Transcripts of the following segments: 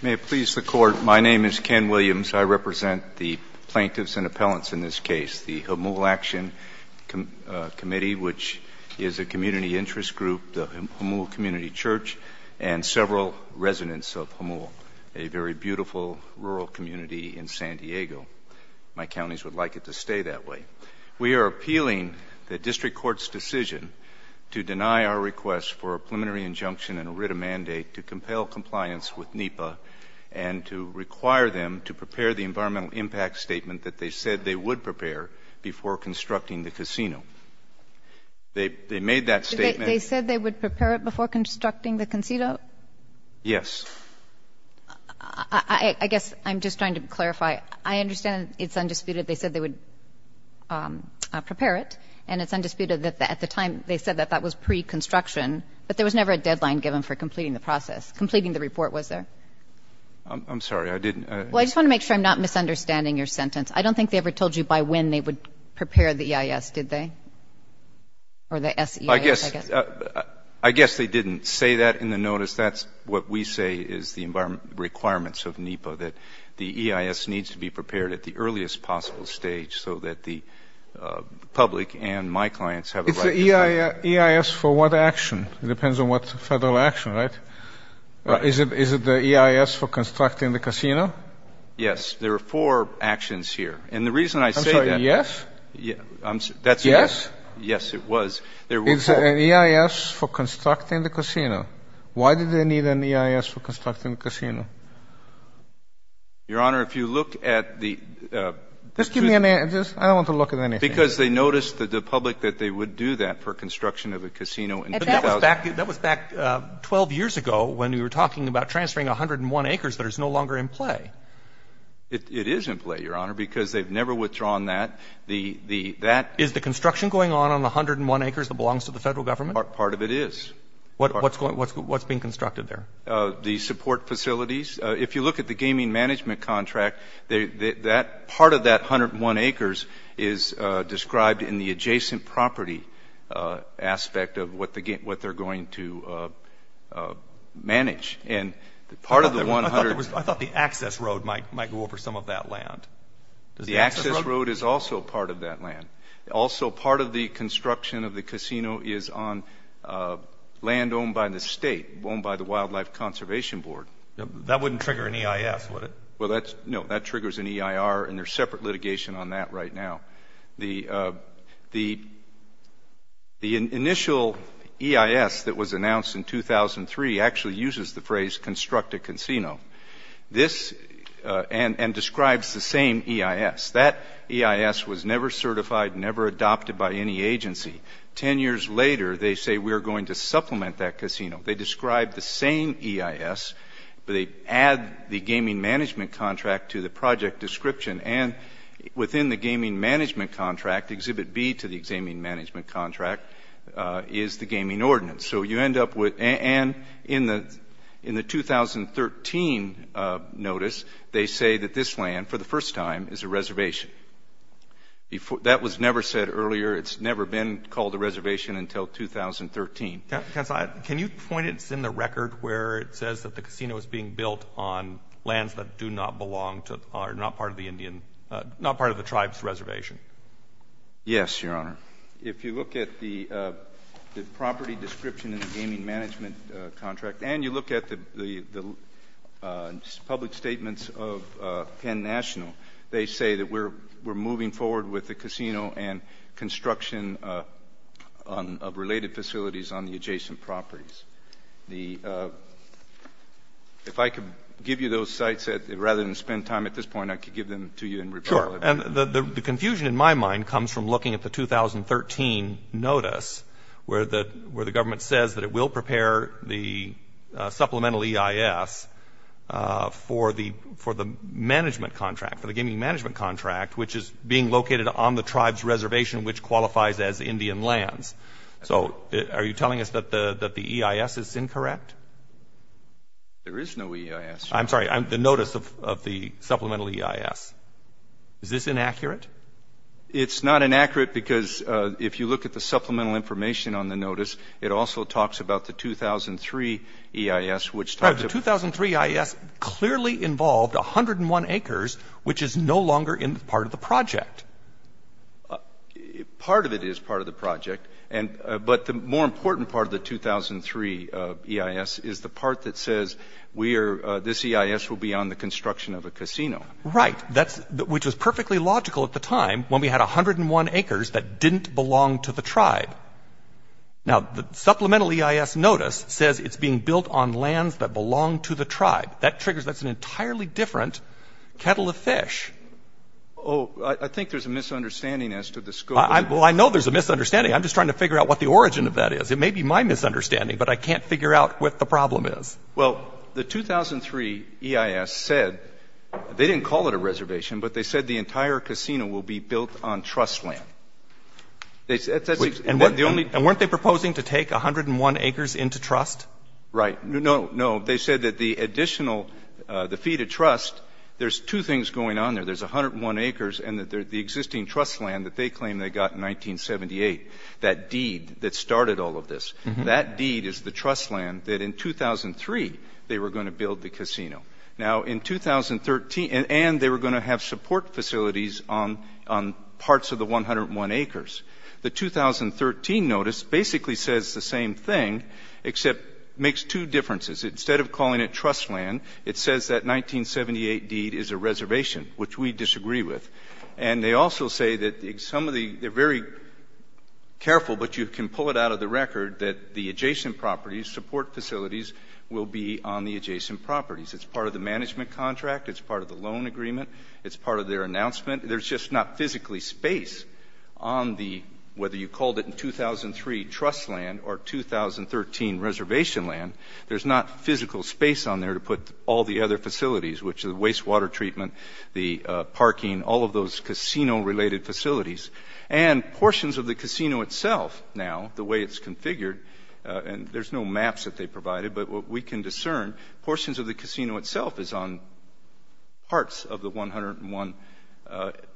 May it please the Court, my name is Ken Williams. I represent the plaintiffs and appellants in this case, the Hamul Action Committee, which is a community interest group, the Hamul Community Church and several residents of Hamul, a very beautiful rural community in San Diego. My counties would like it to stay that way. We are appealing the district court's decision to deny our request for a preliminary injunction and a writ of mandate to compel compliance with NEPA and to require them to prepare the environmental impact statement that they said they would prepare before constructing the casino. They made that statement they said they would prepare it before constructing the casino? Yes. I guess I'm just trying to clarify. I understand it's undisputed they said they would prepare it and it's undisputed that at the time they said that that was pre-construction, but there was never a deadline given for completing the process. Completing the report was there. I'm sorry, I didn't. Well, I just want to make sure I'm not misunderstanding your sentence. I don't think they ever told you by when they would prepare the EIS, did they? Or the EIS? I guess they didn't say that in the notice. That's what we say is the requirements of NEPA, that the EIS needs to be prepared at the earliest possible stage so that the public and my clients have a right to say. It's the EIS for what action? It depends on what federal action, right? Is it the EIS for constructing the casino? Yes. There are four actions here. And the reason I say that. I'm sorry, yes? Yes. Yes, it was. It's an EIS for constructing the casino. Why did they need an EIS for constructing the casino? Your Honor, if you look at the. Just give me an answer. I don't want to look at anything. Because they noticed that the public that they would do that for construction of a casino in 2000. That was back 12 years ago when we were talking about transferring 101 acres that is no longer in play. It is in play, Your Honor, because they've never withdrawn that. The, the, that. Is the construction going on on the 101 acres that belongs to the federal government? Part of it is. What, what's going, what's, what's being constructed there? The support facilities. If you look at the gaming management contract, they, that, part of that 101 acres is described in the adjacent property aspect of what they're going to manage. And part of the 100. I thought the access road might, might go over some of that land. The access road is also part of that land. Also, part of the construction of the casino is on land owned by the state, owned by the Wildlife Conservation Board. That wouldn't trigger an EIS, would it? Well, that's, no, that triggers an EIR and there's separate litigation on that right now. The, the, the initial EIS that was announced in 2003 actually uses the phrase construct a casino. This, and, and describes the same EIS. That EIS was never certified, never adopted by any agency. Ten years later, they say we're going to supplement that casino. They describe the same EIS, but they add the gaming management contract to the project description. And within the gaming management contract, Exhibit B to the gaming management contract is the gaming ordinance. So you end up with, and in the, in the 2013 notice, they say that this land, for the first time, is a reservation. Before, that was never said earlier. It's never been called a reservation until 2013. Counsel, I, can you point us in the record where it says that the casino is being built on lands that do not belong to, are not part of the Indian, not part of the tribe's reservation? Yes, Your Honor. If you look at the, the property description in the gaming management contract and you look at the, the, the public statements of Penn National, they say that we're, we're moving forward with the casino and construction on, of related facilities on the adjacent properties. The, if I could give you those sites that, rather than spend time at this point, I could give them to you in rebuttal. Sure. And the, the confusion in my mind comes from looking at the 2013 notice where the, where the government says that it will prepare the supplemental EIS for the, for the management contract, for the gaming management contract, which is being located on the tribe's reservation, which qualifies as Indian lands. So are you telling us that the, that the EIS is incorrect? There is no EIS. I'm sorry, the notice of, of the supplemental EIS. Is this inaccurate? It's not inaccurate because if you look at the supplemental information on the notice, it also talks about the 2003 EIS, which talks about The 2003 EIS clearly involved 101 acres, which is no longer in part of the project. Part of it is part of the project. And, but the more important part of the 2003 EIS is the part that says we are, this EIS will be on the construction of a casino. Right. That's, which was perfectly logical at the time when we had 101 acres that didn't belong to the tribe. Now, the supplemental EIS notice says it's being built on lands that belong to the tribe. That triggers, that's an entirely different kettle of fish. Oh, I, I think there's a misunderstanding as to the scope. I, well, I know there's a misunderstanding. I'm just trying to figure out what the origin of that is. It may be my misunderstanding, but I can't figure out what the problem is. Well, the 2003 EIS said, they didn't call it a reservation, but they said the entire casino will be built on trust land. They said that's the only And weren't they proposing to take 101 acres into trust? Right. No, no. They said that the additional, the fee to trust, there's two things going on there. There's 101 acres and that they're the existing trust land that they claimed they got in 1978. That deed that started all of this, that deed is the trust land that in 2003 they were going to build the casino. Now, in 2013, and they were going to have support facilities on, on parts of the 101 acres. The 2013 notice basically says the same thing, except makes two differences. Instead of calling it trust land, it says that 1978 deed is a reservation, which we disagree with. And they also say that some of the, they're very careful, but you can pull it out of the record that the adjacent properties, support facilities will be on the adjacent properties. It's part of the management contract. It's part of the loan agreement. It's part of their announcement. There's just not physically space on the, whether you called it in 2003, trust land or 2013 reservation land, there's not physical space on there to put all the other facilities, which are the wastewater treatment, the parking, all of those casino related facilities. And portions of the casino itself now, the way it's configured, and there's no maps that they provided, but what we can discern, portions of the casino itself is on parts of the 101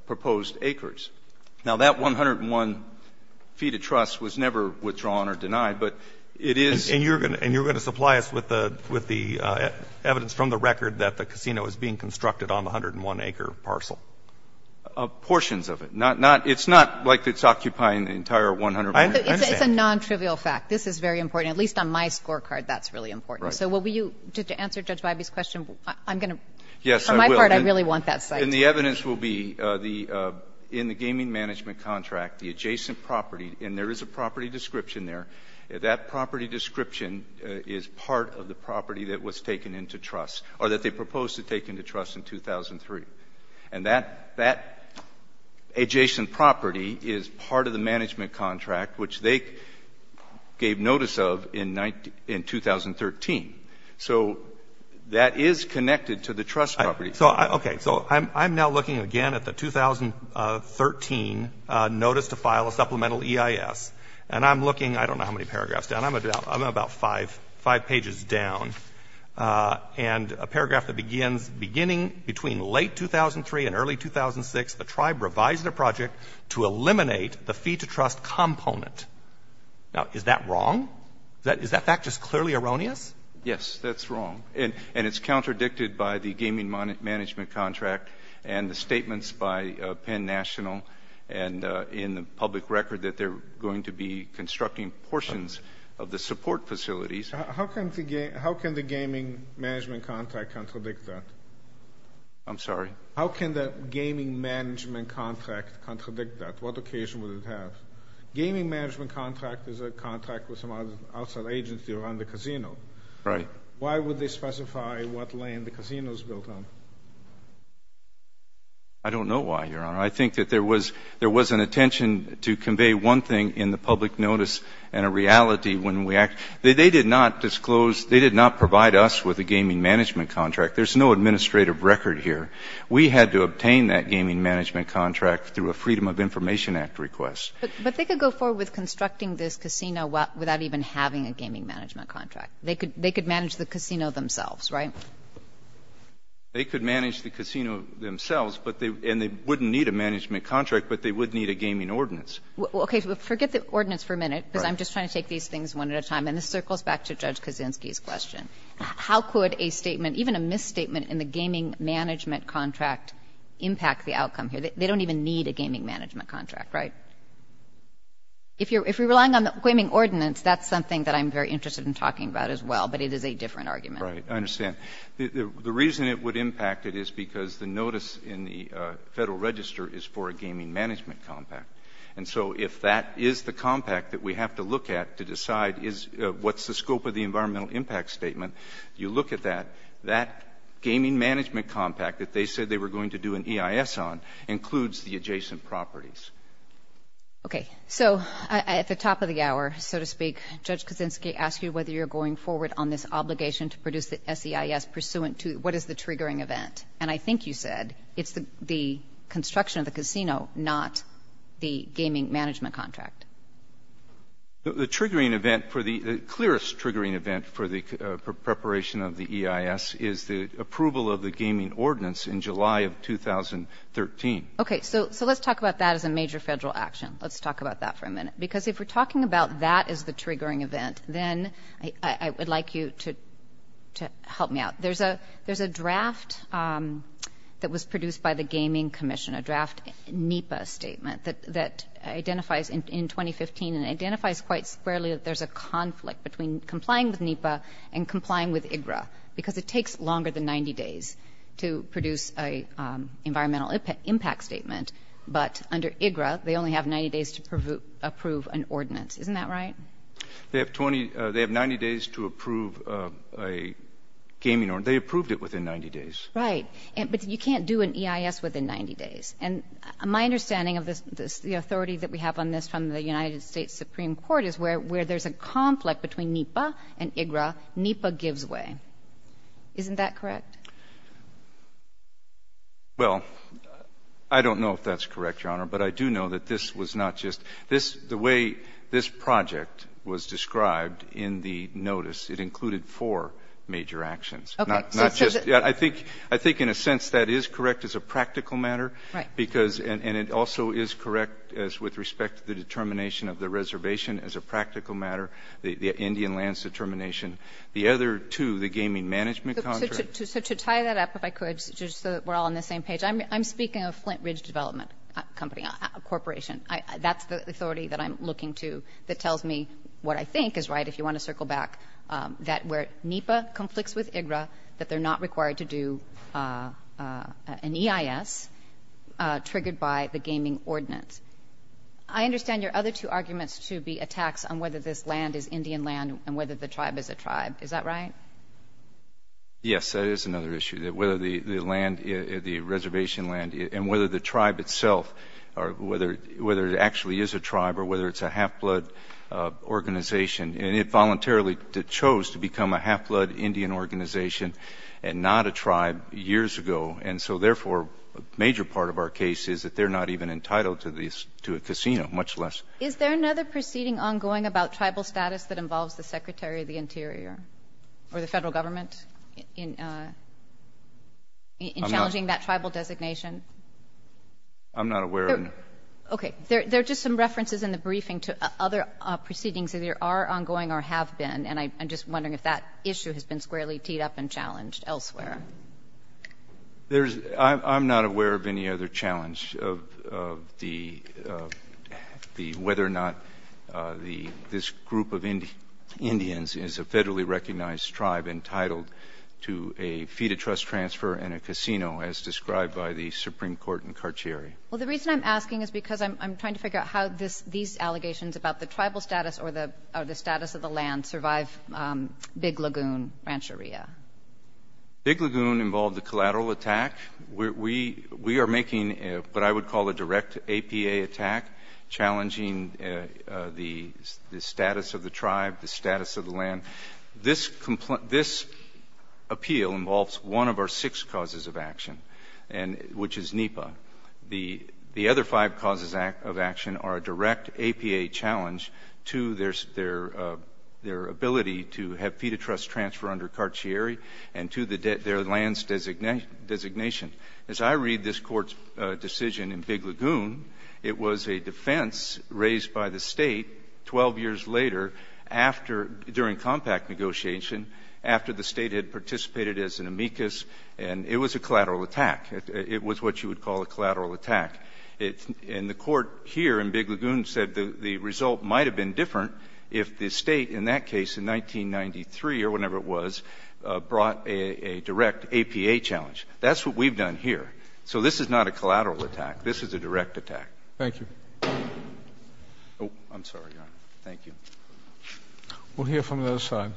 proposed acres. Now, that 101 feet of trust was never withdrawn or denied, but it is And you're going to, and you're going to supply us with the, with the evidence from the record that the casino is being constructed on the 101 acre parcel? of portions of it. Not, not, it's not like it's occupying the entire 101. I understand. It's a non-trivial fact. This is very important, at least on my scorecard, that's really important. So will you, to answer Judge Bybee's question, I'm going to. Yes, I will. For my part, I really want that site. And the evidence will be the, in the gaming management contract, the adjacent property, and there is a property description there. That property description is part of the property that was taken into trust or that they proposed to take into trust in 2003. And that, that adjacent property is part of the management contract, which they gave notice of in 19, in 2013. So that is connected to the trust property. So I, okay, so I'm, I'm now looking again at the 2013 notice to file a supplemental EIS, and I'm looking, I don't know how many paragraphs down, I'm about, I'm about five, five pages down, and a paragraph that begins, beginning between late 2003 and early 2006, the tribe revised their project to eliminate the fee-to-trust component. Now, is that wrong? That, is that fact just clearly erroneous? Yes, that's wrong. And, and it's contradicted by the gaming management contract and the statements by Penn National and in the public record that they're going to be constructing portions of the support facilities. How can the, how can the gaming management contract contradict that? I'm sorry? How can the gaming management contract contradict that? What occasion would it have? Gaming management contract is a contract with some outside agency around the casino. Right. Why would they specify what lane the casino is built on? I don't know why, Your Honor. I think that there was, there was an intention to convey one thing in the public notice and a reality when we act. They did not disclose, they did not provide us with a gaming management contract. There's no administrative record here. We had to obtain that gaming management contract through a Freedom of Information Act request. But they could go forward with constructing this casino without even having a gaming management contract. They could, they could manage the casino themselves, right? They could manage the casino themselves, but they, and they wouldn't need a management contract, but they would need a gaming ordinance. Okay. Forget the ordinance for a minute, because I'm just trying to take these things one at a time. And this circles back to Judge Kaczynski's question. How could a statement, even a misstatement in the gaming management contract impact the outcome here? They don't even need a gaming management contract, right? If you're, if you're relying on the gaming ordinance, that's something that I'm very interested in talking about as well, but it is a different argument. Right. I understand. The reason it would impact it is because the notice in the Federal Register is for a gaming management compact. And so if that is the compact that we have to look at to decide is what's the scope of the environmental impact statement, you look at that, that gaming management compact that they said they were going to do an EIS on includes the adjacent properties. Okay. So at the top of the hour, so to speak, Judge Kaczynski asked you whether you're going forward on this obligation to produce the SEIS pursuant to what is the triggering event. And I think you said it's the construction of the casino, not the gaming management contract. The triggering event for the clearest triggering event for the preparation of the EIS is the approval of the gaming ordinance in July of 2013. Okay. So, so let's talk about that as a major federal action. Let's talk about that for a minute, because if we're talking about that as the triggering event, then I would like you to, to help me out. There's a, there's a draft that was produced by the Gaming Commission, a draft NEPA statement that, that identifies in 2015 and identifies quite squarely that there's a conflict between complying with NEPA and complying with IGRA because it takes longer than 90 days to produce a environmental impact statement. But under IGRA, they only have 90 days to approve an ordinance. Isn't that right? They have 20, they have 90 days to approve a gaming ordinance. They approved it within 90 days. Right. But you can't do an EIS within 90 days. And my understanding of this, the authority that we have on this from the United States Supreme Court is where, where there's a conflict between NEPA and IGRA, NEPA gives way. Isn't that correct? Well, I don't know if that's correct, Your Honor, but I do know that this was not just this, the way this project was described in the notice, it included four major actions, not, not just, I think, I think in a sense that is correct as a practical matter. Right. Because, and, and it also is correct as with respect to the determination of the reservation as a practical matter, the Indian lands determination, the other two, the gaming management contract. So to tie that up, if I could, just so that we're all on the same page, I'm, I'm looking to, that tells me what I think is right, if you want to circle back, that where NEPA conflicts with IGRA, that they're not required to do an EIS triggered by the gaming ordinance. I understand your other two arguments to be attacks on whether this land is Indian land and whether the tribe is a tribe. Is that right? Yes, that is another issue that whether the, the land, the reservation land and whether the tribe itself, or whether, whether it actually is a tribe or whether it's a half-blood organization, and it voluntarily chose to become a half-blood Indian organization and not a tribe years ago. And so therefore, a major part of our case is that they're not even entitled to the, to a casino, much less. Is there another proceeding ongoing about tribal status that involves the Secretary of the Interior or the federal government in, in challenging that tribal designation? I'm not aware of any. Okay. There, there are just some references in the briefing to other proceedings that either are ongoing or have been, and I, I'm just wondering if that issue has been squarely teed up and challenged elsewhere. There's, I'm, I'm not aware of any other challenge of, of the, of the, whether or not the, this group of Indians is a federally recognized tribe entitled to a fee-to-trust transfer and a casino, as described by the Supreme Court in Carchieri. Well, the reason I'm asking is because I'm, I'm trying to figure out how this, these allegations about the tribal status or the, or the status of the land survive Big Lagoon Rancheria. Big Lagoon involved a collateral attack. We, we, we are making what I would call a direct APA attack, challenging the, the status of the tribe, the status of the land. This, this appeal involves one of our six causes of action, and, which is NEPA. The, the other five causes of action are a direct APA challenge to their, their, their ability to have fee-to-trust transfer under Carchieri and to the, their lands designation, designation. As I read this court's decision in Big Lagoon, it was a defense raised by the state 12 years later after, during compact negotiation, after the state had participated as an amicus, and it was a collateral attack. It, it was what you would call a collateral attack. It, and the court here in Big Lagoon said the, the result might have been different if the state, in that case, in 1993 or whenever it was, brought a, a direct APA challenge. That's what we've done here. So this is not a collateral attack. This is a direct attack. Thank you. Oh, I'm sorry, Your Honor. Thank you. We'll hear from the other side.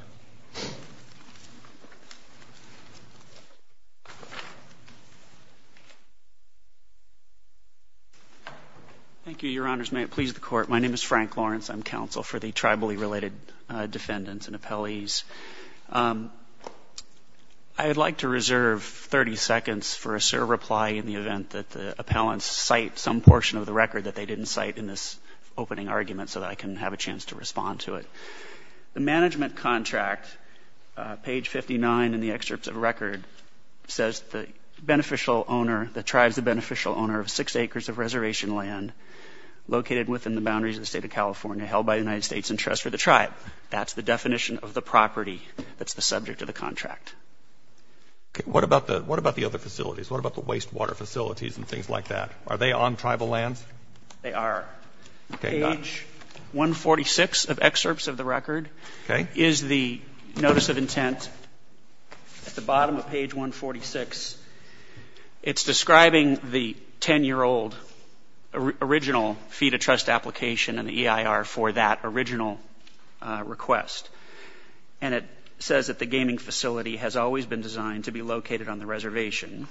Thank you, Your Honors. May it please the Court. My name is Frank Lawrence. I'm counsel for the tribally related defendants and appellees. I would like to reserve 30 seconds for a serve reply in the event that the opening argument so that I can have a chance to respond to it. The management contract, page 59 in the excerpts of record, says the beneficial owner, the tribe's the beneficial owner of six acres of reservation land located within the boundaries of the state of California held by the United States in trust for the tribe. That's the definition of the property that's the subject of the contract. What about the, what about the other facilities? What about the wastewater facilities and things like that? Are they on tribal lands? They are. Page 146 of excerpts of the record is the notice of intent at the bottom of page 146. It's describing the 10-year-old original fee to trust application and the EIR for that original request. And it says that the gaming facility has always been designed to be located on the reservation.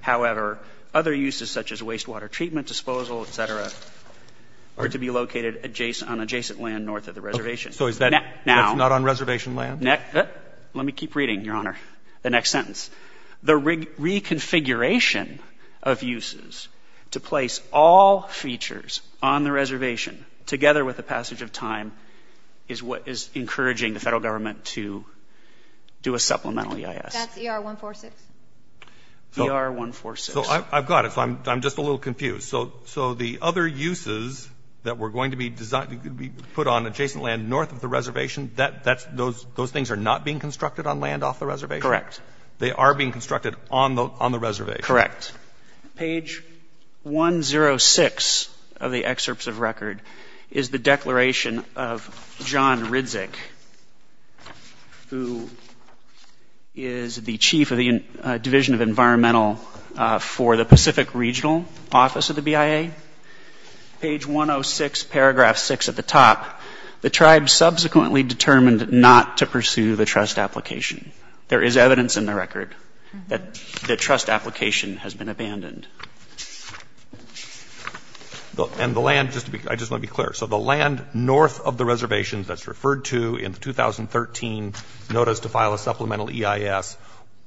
However, other uses such as wastewater treatment disposal, et cetera, are to be located adjacent, on adjacent land north of the reservation. So is that not on reservation land? Let me keep reading, Your Honor, the next sentence. The reconfiguration of uses to place all features on the reservation together with the passage of time is what is encouraging the federal government to do a supplemental EIS. That's ER 146? ER 146. So I've got it. So I'm just a little confused. So the other uses that were going to be designed to be put on adjacent land north of the reservation, that's, those things are not being constructed on land off the reservation? Correct. They are being constructed on the reservation? Correct. Page 106 of the excerpts of record is the declaration of John Ridzic, who is the chief of the Division of Environmental for the Pacific Regional Office of the BIA. Page 106, paragraph 6 at the top, the tribe subsequently determined not to pursue the trust application. There is evidence in the record that the trust application has been abandoned. And the land, just to be, I just want to be clear. So the land north of the reservation, which the tribe did not pursue in the 2013 notice to file a supplemental EIS,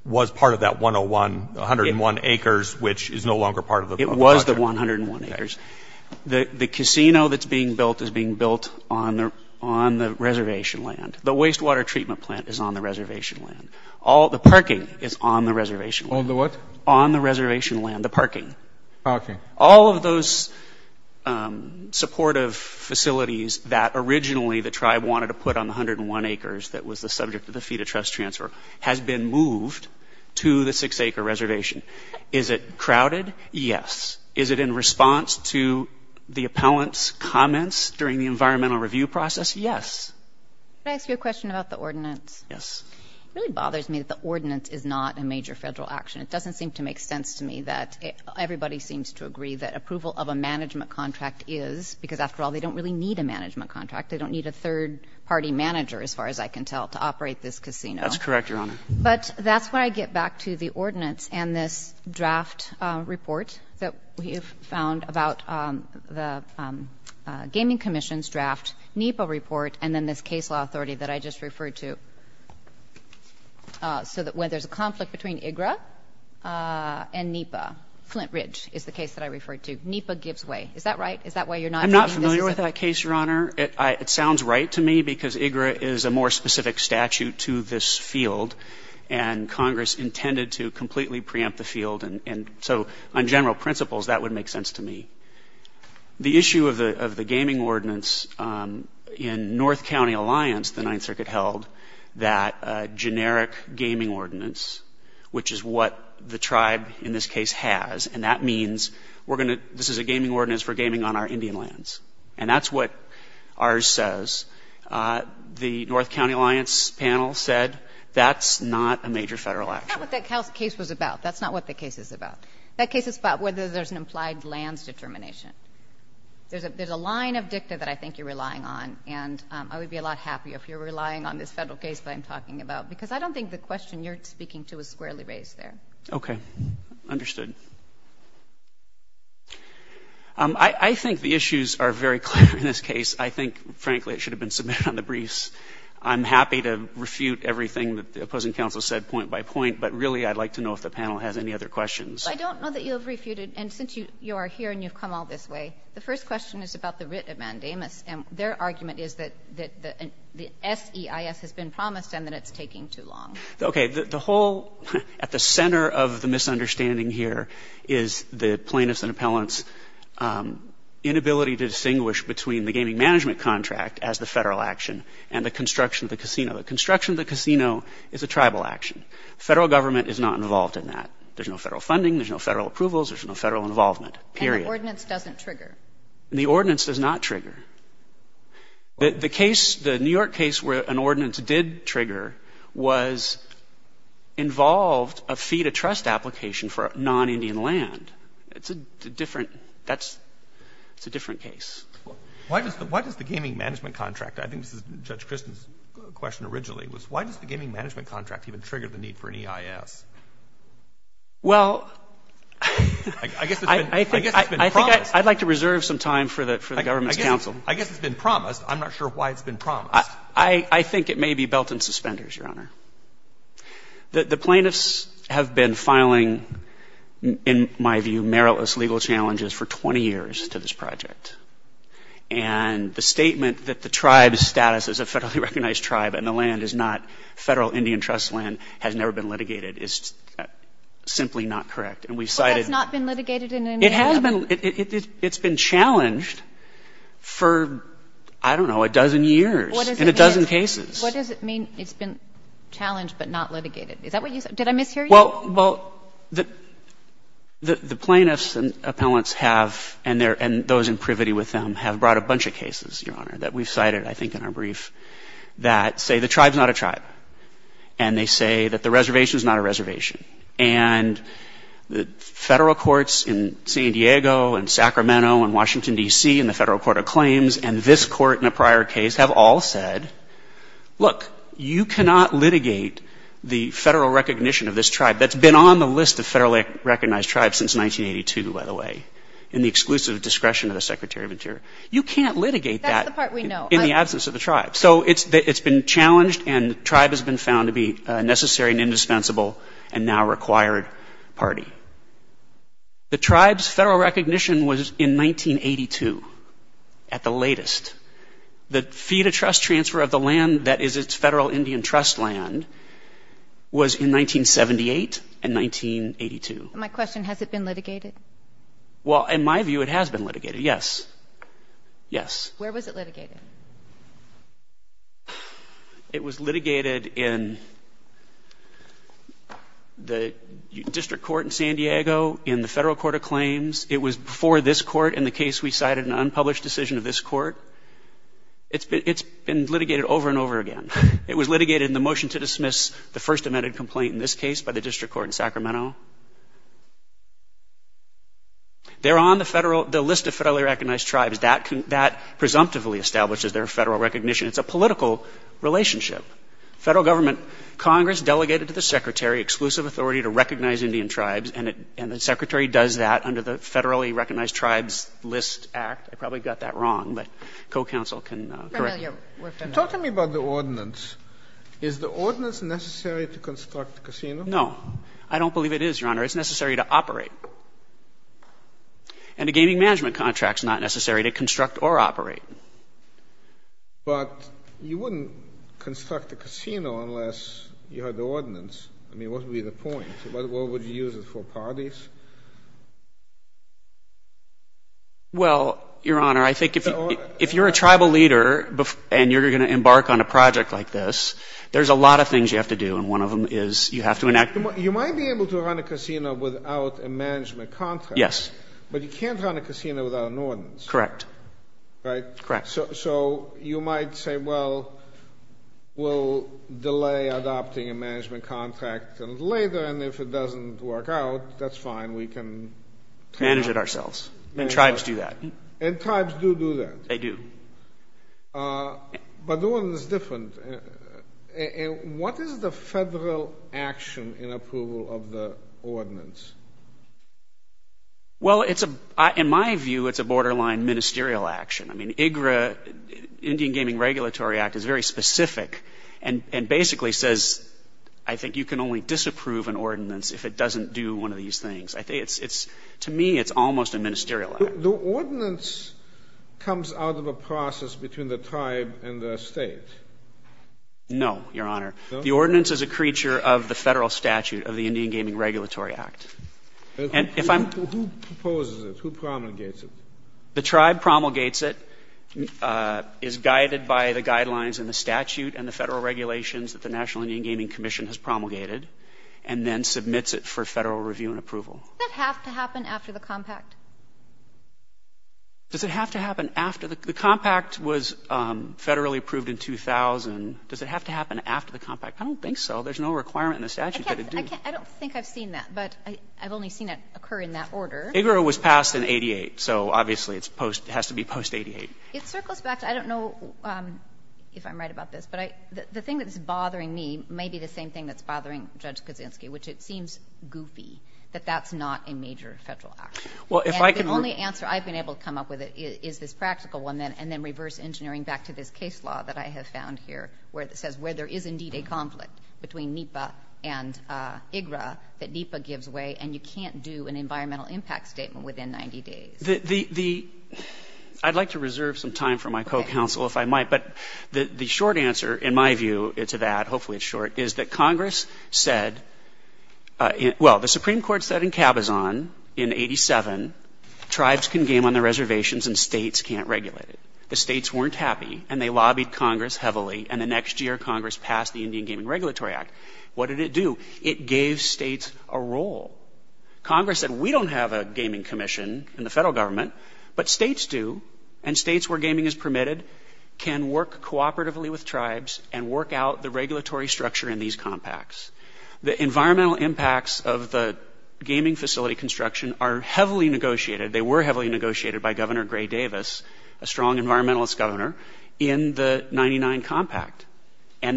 was part of that 101, 101 acres, which is no longer part of the project? It was the 101 acres. The casino that's being built is being built on the reservation land. The wastewater treatment plant is on the reservation land. All, the parking is on the reservation land. On the what? On the reservation land, the parking. Parking. All of those supportive facilities that originally the tribe wanted to put on the 101 acres that was the subject of the FETA trust transfer has been moved to the six-acre reservation. Is it crowded? Yes. Is it in response to the appellant's comments during the environmental review process? Yes. Can I ask you a question about the ordinance? Yes. It really bothers me that the ordinance is not a major federal action. It seems to agree that approval of a management contract is because, after all, they don't really need a management contract. They don't need a third party manager, as far as I can tell, to operate this casino. That's correct, Your Honor. But that's why I get back to the ordinance and this draft report that we've found about the Gaming Commission's draft NEPA report and then this case law authority that I just referred to. So that when there's a conflict between NEPA gives way. Is that right? I'm not familiar with that case, Your Honor. It sounds right to me because IGRA is a more specific statute to this field, and Congress intended to completely preempt the field. And so on general principles, that would make sense to me. The issue of the gaming ordinance in North County Alliance, the Ninth Circuit held, that generic gaming ordinance, which is what the tribe in this case has, and that means we're going to, this is a gaming ordinance for gaming on our Indian lands. And that's what ours says. The North County Alliance panel said that's not a major federal action. That's not what that case was about. That's not what the case is about. That case is about whether there's an implied lands determination. There's a line of dicta that I think you're relying on, and I would be a lot happier if you're relying on this federal case that I'm talking about, because I don't think the question you're speaking to is squarely raised there. Okay. Understood. I think the issues are very clear in this case. I think, frankly, it should have been submitted on the briefs. I'm happy to refute everything that the opposing counsel said point by point, but really I'd like to know if the panel has any other questions. I don't know that you have refuted, and since you are here and you've come all this way, the first question is about the writ of Mandamus, and their argument is that the SEIS has been promised and that it's taking too long. Okay. The whole, at the center of the misunderstanding here is the plaintiffs and appellants' inability to distinguish between the gaming management contract as the federal action and the construction of the casino. The construction of the casino is a tribal action. Federal government is not involved in that. There's no federal funding. There's no federal approvals. There's no federal involvement, period. And the ordinance doesn't trigger. The ordinance does not trigger. The case, the New York case where an ordinance did trigger, was involved a fee-to-trust application for non-Indian land. It's a different, that's, it's a different case. Why does the gaming management contract, I think this is Judge Christin's question originally, was why does the gaming management contract even trigger the need for an EIS? Well, I guess it's been promised. I'd like to reserve some time for the government's counsel. I guess it's been promised. I'm not sure why it's been promised. I think it may be belt and suspenders, Your Honor. The plaintiffs have been filing, in my view, meritless legal challenges for 20 years to this project. And the statement that the tribe's status as a federally recognized tribe and the land is not federal Indian trust land, has never been litigated, is simply not correct. And we've cited... Well, that's not been litigated in any way. It has been. It's been challenged for, I don't know, a dozen years. In a dozen cases. What does it mean, it's been challenged but not litigated? Is that what you said? Did I mishear you? Well, the plaintiffs and appellants have, and those in privity with them, have brought a bunch of cases, Your Honor, that we've cited, I think, in our brief, that say the tribe's not a tribe. And they say that the reservation's not a reservation. And the federal courts in San Diego and Sacramento and Washington, D.C. and the Federal Court of Claims and this court in a prior case have all said, look, you cannot litigate the federal recognition of this tribe. That's been on the list of federally recognized tribes since 1982, by the way, in the exclusive discretion of the Secretary of Interior. You can't litigate that... That's the part we know. ...in the absence of the tribe. So it's been challenged and the tribe has been found to be a necessary and indispensable and now required party. The tribe's federal recognition was in 1982 at the latest. The fee to trust transfer of the land that is its federal Indian trust land was in 1978 and 1982. My question, has it been litigated? Well, in my view, it has been litigated, yes. Yes. Where was it litigated? It was litigated in the District Court in San Diego, in the Federal Court of Claims. It was before this court in the case we cited, an unpublished decision of this court. It's been litigated over and over again. It was litigated in the motion to dismiss the first amended complaint in this case by the District Court in Sacramento. They're on the list of federally recognized tribes. That presumptively establishes their federal recognition. It's a political relationship. Federal government, Congress delegated to the Secretary exclusive authority to recognize Indian tribes and the Secretary does that under the Federally Recognized Tribes List Act. I probably got that wrong, but co-counsel can correct me. Talk to me about the ordinance. Is the ordinance necessary to construct a casino? No. I don't believe it is, Your Honor. It's necessary to operate. And the gaming management contract's not necessary to construct or operate. But you wouldn't construct a casino unless you had the ordinance. I mean, what would be the point? What would you use it for? Parties? Well, Your Honor, I think if you're a tribal leader and you're going to embark on a project like this, there's a lot of things you have to do and one of them is you have to enact... You might be able to run a casino without a management contract. Yes. But you can't run a casino without an ordinance. Correct. Right? Correct. So you might say, well, we'll delay adopting a management contract later and if it doesn't work out, that's fine, we can... Manage it ourselves. And tribes do that. And tribes do do that. They do. But the one that's different, what is the federal action in approval of the ordinance? Well, in my view, it's a borderline ministerial action. I mean, IGRA, Indian Gaming Regulatory Act, is very specific and basically says, I think you can only disapprove an ordinance if it doesn't do one of these things. To me, it's almost a ministerial act. The ordinance comes out of a process between the tribe and the state. No, Your Honor. The ordinance is a creature of the federal statute of the Indian Gaming Regulatory Act. And if I'm... Who proposes it? Who promulgates it? The tribe promulgates it, is guided by the guidelines in the statute and the federal regulations that the National Indian Gaming Commission has promulgated and then submits it for federal review and approval. Does that have to happen after the compact? Does it have to happen after the compact? The compact was federally approved in 2000. Does it have to happen after the compact? I don't think so. There's no requirement in the statute that it do. I don't think I've seen that, but I've only seen it occur in that order. IGRA was passed in 88, so obviously it has to be post 88. It circles back to, I don't know if I'm right about this, but the thing that's bothering me may be the same thing that's bothering Judge Kaczynski, which it seems goofy, that that's not a major federal action. Well, if I can... And the only answer I've been able to come up with is this practical one, and then reverse engineering back to this case law that I have found here, where it says where there is indeed a conflict between NEPA and IGRA that NEPA gives way, and you can't do an environmental impact statement within 90 days. I'd like to reserve some time for my co-counsel if I might, but the short answer in my view to that, hopefully it's short, is that Congress said... Well, the Supreme Court said in Cabazon in 87, tribes can game on their reservations and states can't regulate it. The states weren't happy, and they Congress passed the Indian Gaming Regulatory Act. What did it do? It gave states a role. Congress said, we don't have a gaming commission in the federal government, but states do, and states where gaming is permitted can work cooperatively with tribes and work out the regulatory structure in these compacts. The environmental impacts of the gaming facility construction are heavily And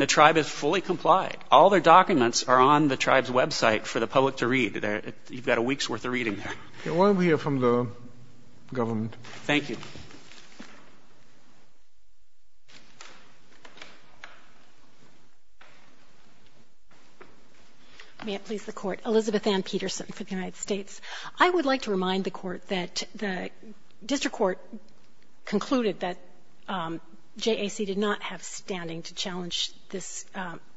the tribe is fully complied. All their documents are on the tribe's website for the public to read. You've got a week's worth of reading there. I want to hear from the government. Thank you. May it please the Court. Elizabeth Ann Peterson for the United States. I would like to remind the Court that the district court concluded that JAC did not have standing to challenge this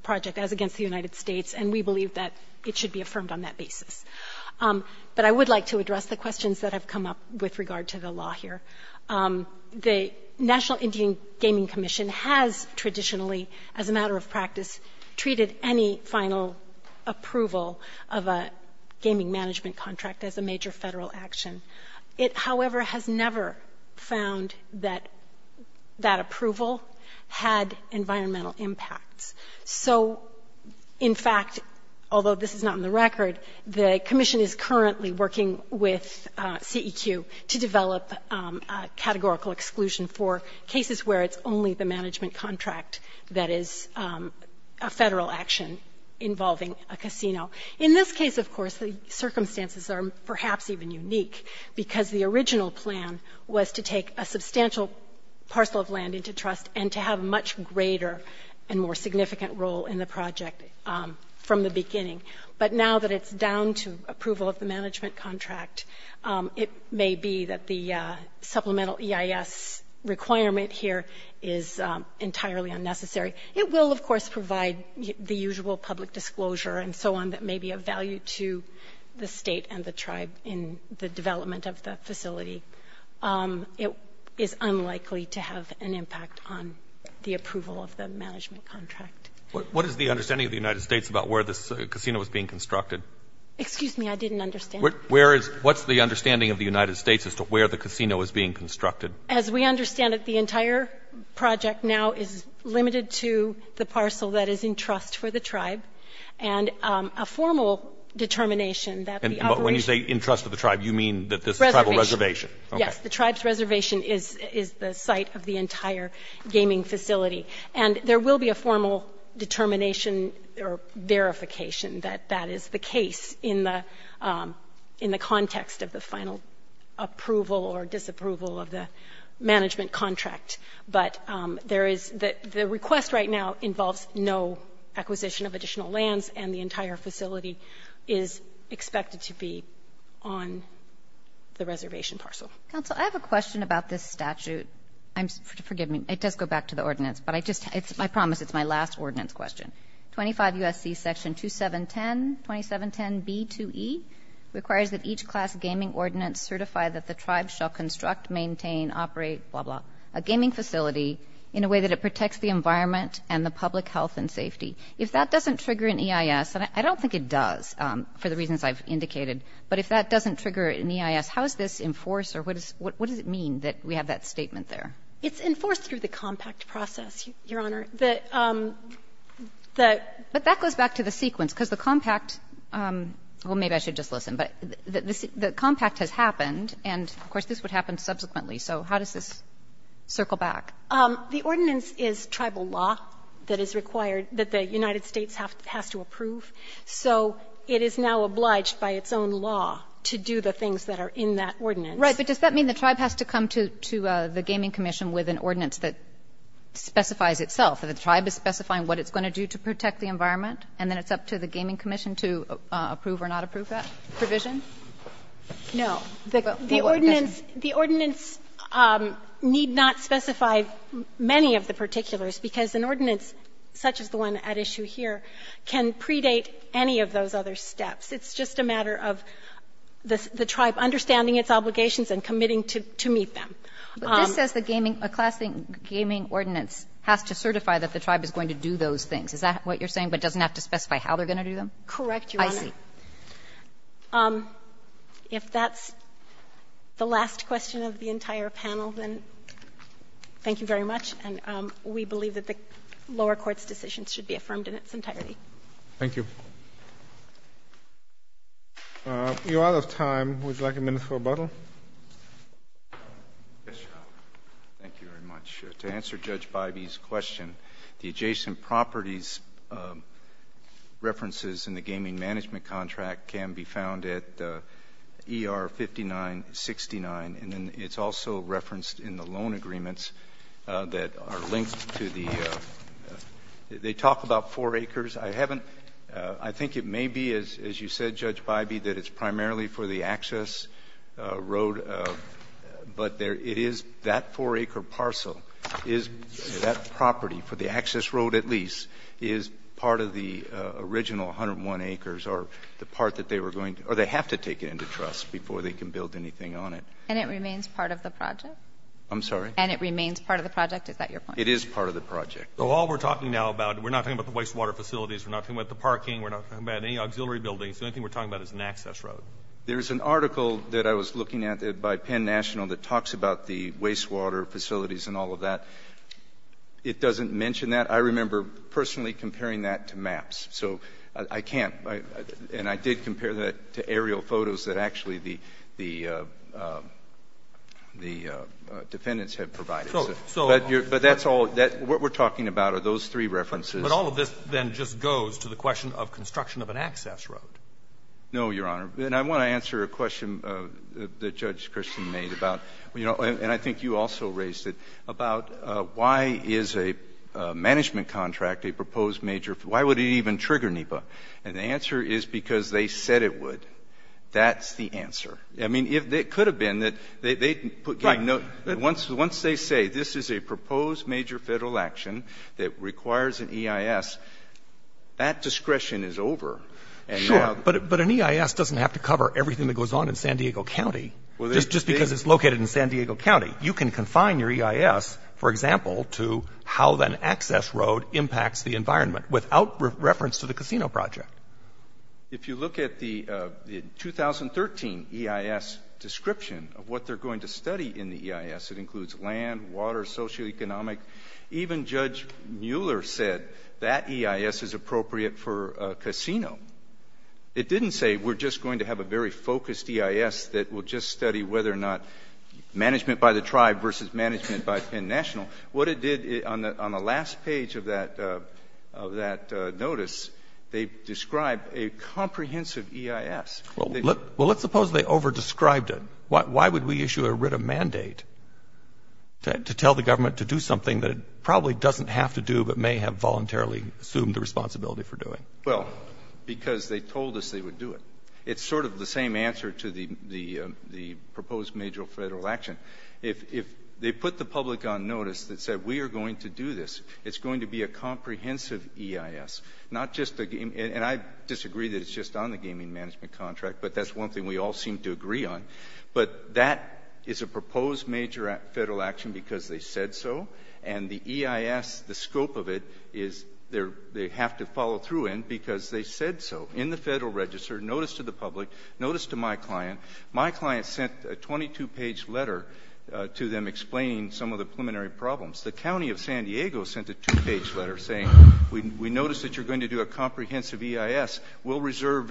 project as against the United States, and we believe that it should be affirmed on that basis. But I would like to address the questions that have come up with regard to the law here. The National Indian Gaming Commission has traditionally, as a matter of practice, treated any final approval of a gaming management contract as a major federal action. It, however, has never found that that approval had environmental impacts. So, in fact, although this is not in the record, the commission is currently working with CEQ to develop a categorical exclusion for cases where it's only the management contract that is a federal action involving a casino. In this case, of course, the circumstances are perhaps even unique because the original plan was to take a substantial parcel of land into trust and to have a much greater and more significant role in the project from the beginning. But now that it's down to approval of the management contract, it may be that the supplemental EIS requirement here is entirely unnecessary. It will, of course, provide the usual public disclosure and so on that may be of value to the state and the tribe in the development of the facility. It is unlikely to have an impact on the approval of the management contract. What is the understanding of the United States about where this casino is being constructed? Excuse me, I didn't understand. What's the understanding of the United States as to where the casino is being constructed? As we understand it, the entire project now is limited to the parcel that is in the tribe. And a formal determination that the operation of the entire facility is in the hands of the tribe. When you say in trust of the tribe, you mean that this is a tribal reservation. Yes. The tribe's reservation is the site of the entire gaming facility. And there will be a formal determination or verification that that is the case in the context of the final approval or disapproval of the management contract. But there is the request right now involves no acquisition of additional lands and the entire facility is expected to be on the reservation parcel. Counsel, I have a question about this statute. Forgive me. It does go back to the ordinance. But I just, I promise it's my last ordinance question. 25 U.S.C. Section 2710, 2710B2E requires that each class gaming ordinance certify that the tribe shall construct, maintain, operate, blah, blah, a gaming facility in a way that it protects the environment and the public health and safety. If that doesn't trigger an EIS, and I don't think it does for the reasons I've indicated, but if that doesn't trigger an EIS, how is this enforced or what does it mean that we have that statement there? It's enforced through the compact process, Your Honor. The ‑‑ But that goes back to the sequence, because the compact ‑‑ well, maybe I should just listen. But the compact has happened, and of course this would happen subsequently. So how does this circle back? The ordinance is tribal law that is required, that the United States has to approve. So it is now obliged by its own law to do the things that are in that ordinance. Right. But does that mean the tribe has to come to the Gaming Commission with an ordinance that specifies itself? The tribe is specifying what it's going to do to protect the environment, and then it's up to the Gaming Commission to approve or not approve that provision? No. The ordinance ‑‑ the ordinance need not specify many of the particulars, because an ordinance such as the one at issue here can predate any of those other steps. It's just a matter of the tribe understanding its obligations and committing to meet them. But this says the Gaming ‑‑ a classic gaming ordinance has to certify that the tribe is going to do those things. Is that what you're saying, but it doesn't have to specify how they're going to do them? Correct, Your Honor. I see. Okay. If that's the last question of the entire panel, then thank you very much. And we believe that the lower court's decisions should be affirmed in its entirety. Thank you. We are out of time. Would you like a minute for rebuttal? Yes, Your Honor. Thank you very much. To answer Judge Bybee's question, the adjacent property's references in the gaming management contract can be found at ER5969, and it's also referenced in the loan agreements that are linked to the ‑‑ they talk about four acres. I haven't ‑‑ I think it may be, as you said, Judge Bybee, that it's primarily for the access road, but it is that four‑acre parcel is that property for the access road at least is part of the original 101 acres or the part that they were going to ‑‑ or they have to take it into trust before they can build anything on it. And it remains part of the project? I'm sorry? And it remains part of the project? Is that your point? It is part of the project. So all we're talking now about, we're not talking about the wastewater facilities, we're not talking about the parking, we're not talking about any auxiliary buildings, the only thing we're talking about is an access road. There's an article that I was looking at by Penn National that talks about the wastewater facilities and all of that. It doesn't mention that. I remember personally comparing that to maps. So I can't ‑‑ and I did compare that to aerial photos that actually the ‑‑ the defendants had provided. So ‑‑ But that's all ‑‑ what we're talking about are those three references. But all of this then just goes to the question of construction of an access road? No, Your Honor. And I want to answer a question that Judge Christian made about ‑‑ and I think you also raised it, about why is a management contract, a proposed major ‑‑ why would it even trigger NEPA? And the answer is because they said it would. That's the answer. I mean, it could have been that they put ‑‑ Right. Once they say this is a proposed major federal action that requires an EIS, that discretion is over. Sure. But an EIS doesn't have to cover everything that goes on in San Diego County. Just because it's located in San Diego County. You can confine your EIS, for example, to how an access road impacts the environment without reference to the casino project. If you look at the 2013 EIS description of what they're going to study in the EIS, it includes land, water, socioeconomic, even Judge Mueller said that EIS is appropriate for a casino. It didn't say we're just going to have a very focused EIS that will just study whether or not management by the tribe versus management by Penn National. What it did on the last page of that notice, they described a comprehensive EIS. Well, let's suppose they overdescribed it. Why would we issue a writ of mandate to tell the government to do something that it probably doesn't have to do but may have voluntarily assumed the responsibility for doing? Well, because they told us they would do it. It's sort of the same answer to the proposed major federal action. If they put the public on notice that said we are going to do this, it's going to be a comprehensive EIS. And I disagree that it's just on the gaming management contract, but that's one thing we all seem to agree on. But that is a proposed major federal action because they said so. And the EIS, the scope of it is they have to follow through in because they said so in the federal register, notice to the public, notice to my client. My client sent a 22-page letter to them explaining some of the preliminary problems. The county of San Diego sent a two-page letter saying we noticed that you're going to do a comprehensive EIS. We'll reserve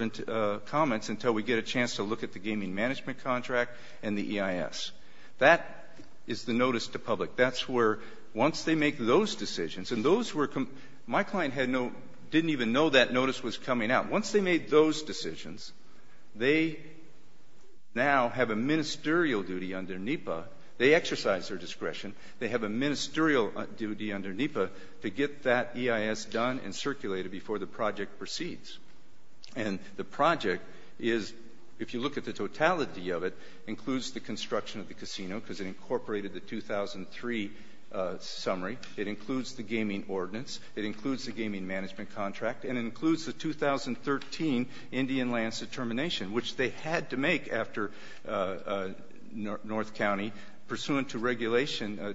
comments until we get a chance to look at the gaming management contract and the EIS. That is the notice to public. Once they make those decisions, and my client didn't even know that notice was coming out. Once they made those decisions, they now have a ministerial duty under NEPA. They exercise their discretion. They have a ministerial duty under NEPA to get that EIS done and circulated before the project proceeds. And the project is, if you look at the totality of it, includes the construction of the casino because it incorporated the 2003 summary. It includes the gaming ordinance. It includes the gaming management contract. And it includes the 2013 Indian lands determination, which they had to make after North County, pursuant to regulation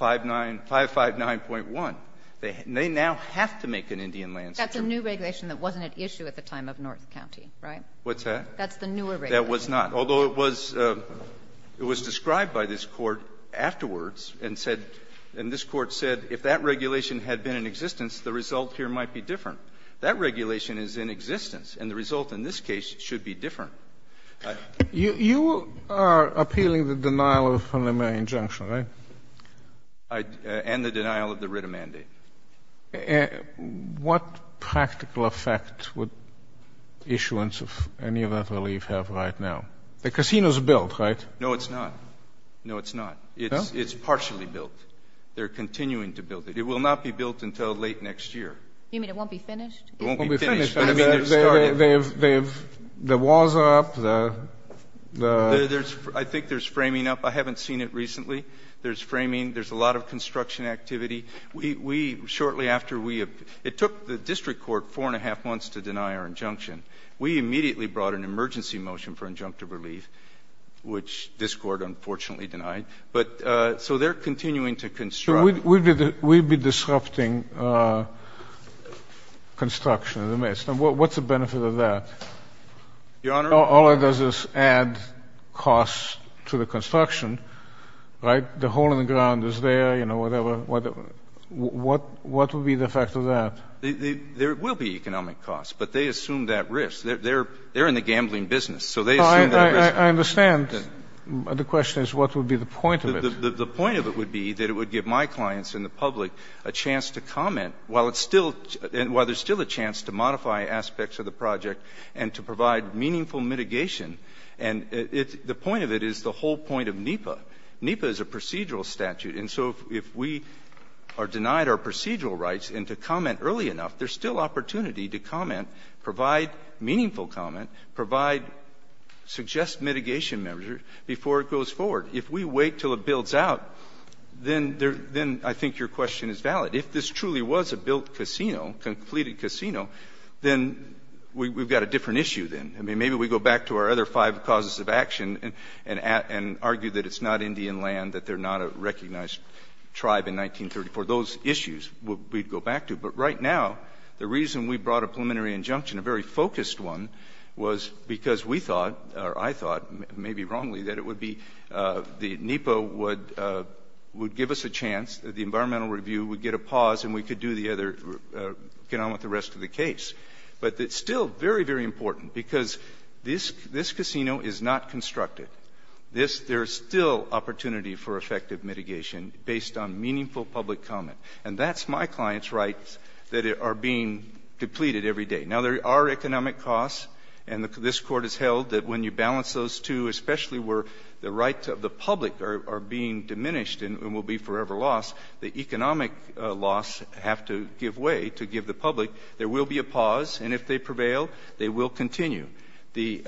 559.1. They now have to make an Indian lands determination. That's a new regulation that wasn't at issue at the time of North County, right? What's that? That's the newer regulation. Although it was described by this Court afterwards and said, and this Court said, if that regulation had been in existence, the result here might be different. That regulation is in existence, and the result in this case should be different. You are appealing the denial of preliminary injunction, right? And the denial of the RITA mandate. And what practical effect would issuance of any of that relief have right now? The casino is built, right? No, it's not. No, it's not. It's partially built. They're continuing to build it. It will not be built until late next year. You mean it won't be finished? It won't be finished. It won't be finished. I mean, the walls are up. I think there's framing up. I haven't seen it recently. There's framing. There's a lot of construction activity. It took the district court four and a half months to deny our injunction. We immediately brought an emergency motion for injunctive relief, which this Court unfortunately denied. So they're continuing to construct. So we'd be disrupting construction in the midst. What's the benefit of that? Your Honor? All it does is add costs to the construction, right? The hole in the ground is there. Whatever. What would be the effect of that? There will be economic costs, but they assume that risk. They're in the gambling business, so they assume that risk. I understand. The question is, what would be the point of it? The point of it would be that it would give my clients and the public a chance to comment while there's still a chance to modify aspects of the project and to provide meaningful mitigation. And the point of it is the whole point of NEPA. NEPA is a we are denied our procedural rights and to comment early enough, there's still opportunity to comment, provide meaningful comment, provide, suggest mitigation measures before it goes forward. If we wait till it builds out, then I think your question is valid. If this truly was a built casino, completed casino, then we've got a different issue then. I mean, maybe we go back to our other five causes of tribe in 1934. Those issues we'd go back to. But right now, the reason we brought a preliminary injunction, a very focused one, was because we thought, or I thought, maybe wrongly, that it would be the NEPA would give us a chance, that the environmental review would get a pause and we could do the other, get on with the rest of the case. But it's still very, very important because this casino is not constructed. This, there's still opportunity for effective mitigation based on meaningful public comment. And that's my client's rights that are being depleted every day. Now, there are economic costs, and this Court has held that when you balance those two, especially where the rights of the public are being diminished and will be forever lost, the economic loss have to give way to give the public, there will be a pause. And if they prevail, they will continue. The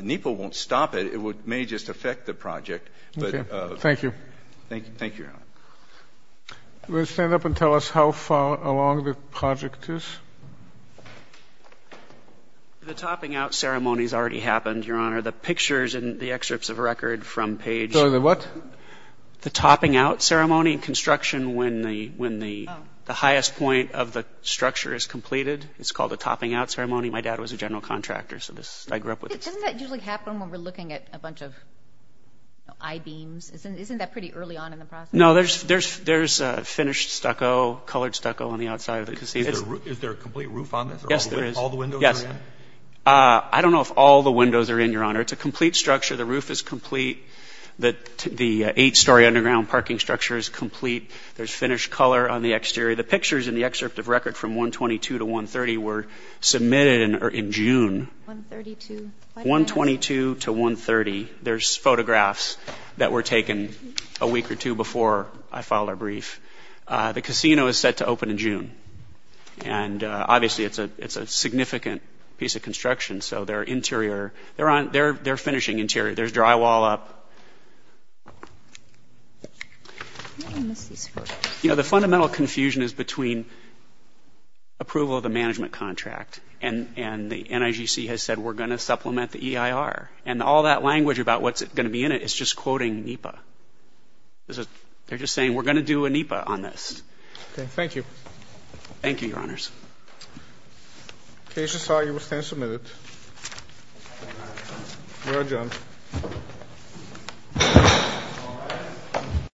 NEPA won't stop it. It may just affect the project. Thank you. Thank you. We'll stand up and tell us how far along the project is. The topping out ceremony has already happened, Your Honor. The pictures in the excerpts of record from page... Sorry, the what? The topping out ceremony in construction when the highest point of the structure is completed. It's called a topping out ceremony. My dad was a general contractor, so I grew up with it. Doesn't that usually happen when we're looking at a bunch of I-beams? Isn't that pretty early on in the process? No, there's finished stucco, colored stucco on the outside of the casino. Is there a complete roof on this? Yes, there is. All the windows are in? Yes. I don't know if all the windows are in, Your Honor. It's a complete structure. The roof is complete. The eight-story underground parking structure is complete. There's excerpt of record from 122 to 130 were submitted in June. 122 to 130. There's photographs that were taken a week or two before I filed a brief. The casino is set to open in June. And obviously, it's a significant piece of construction. So their interior, their finishing interior, there's drywall up. I think I missed these first. You know, the fundamental confusion is between approval of the management contract and the NIGC has said, we're going to supplement the EIR. And all that language about what's going to be in it is just quoting NEPA. They're just saying, we're going to do a NEPA on this. Okay. Thank you. Thank you, Your Honors. Case is solved. You may stand and submit it. Thank you, Your Honor. You're adjourned.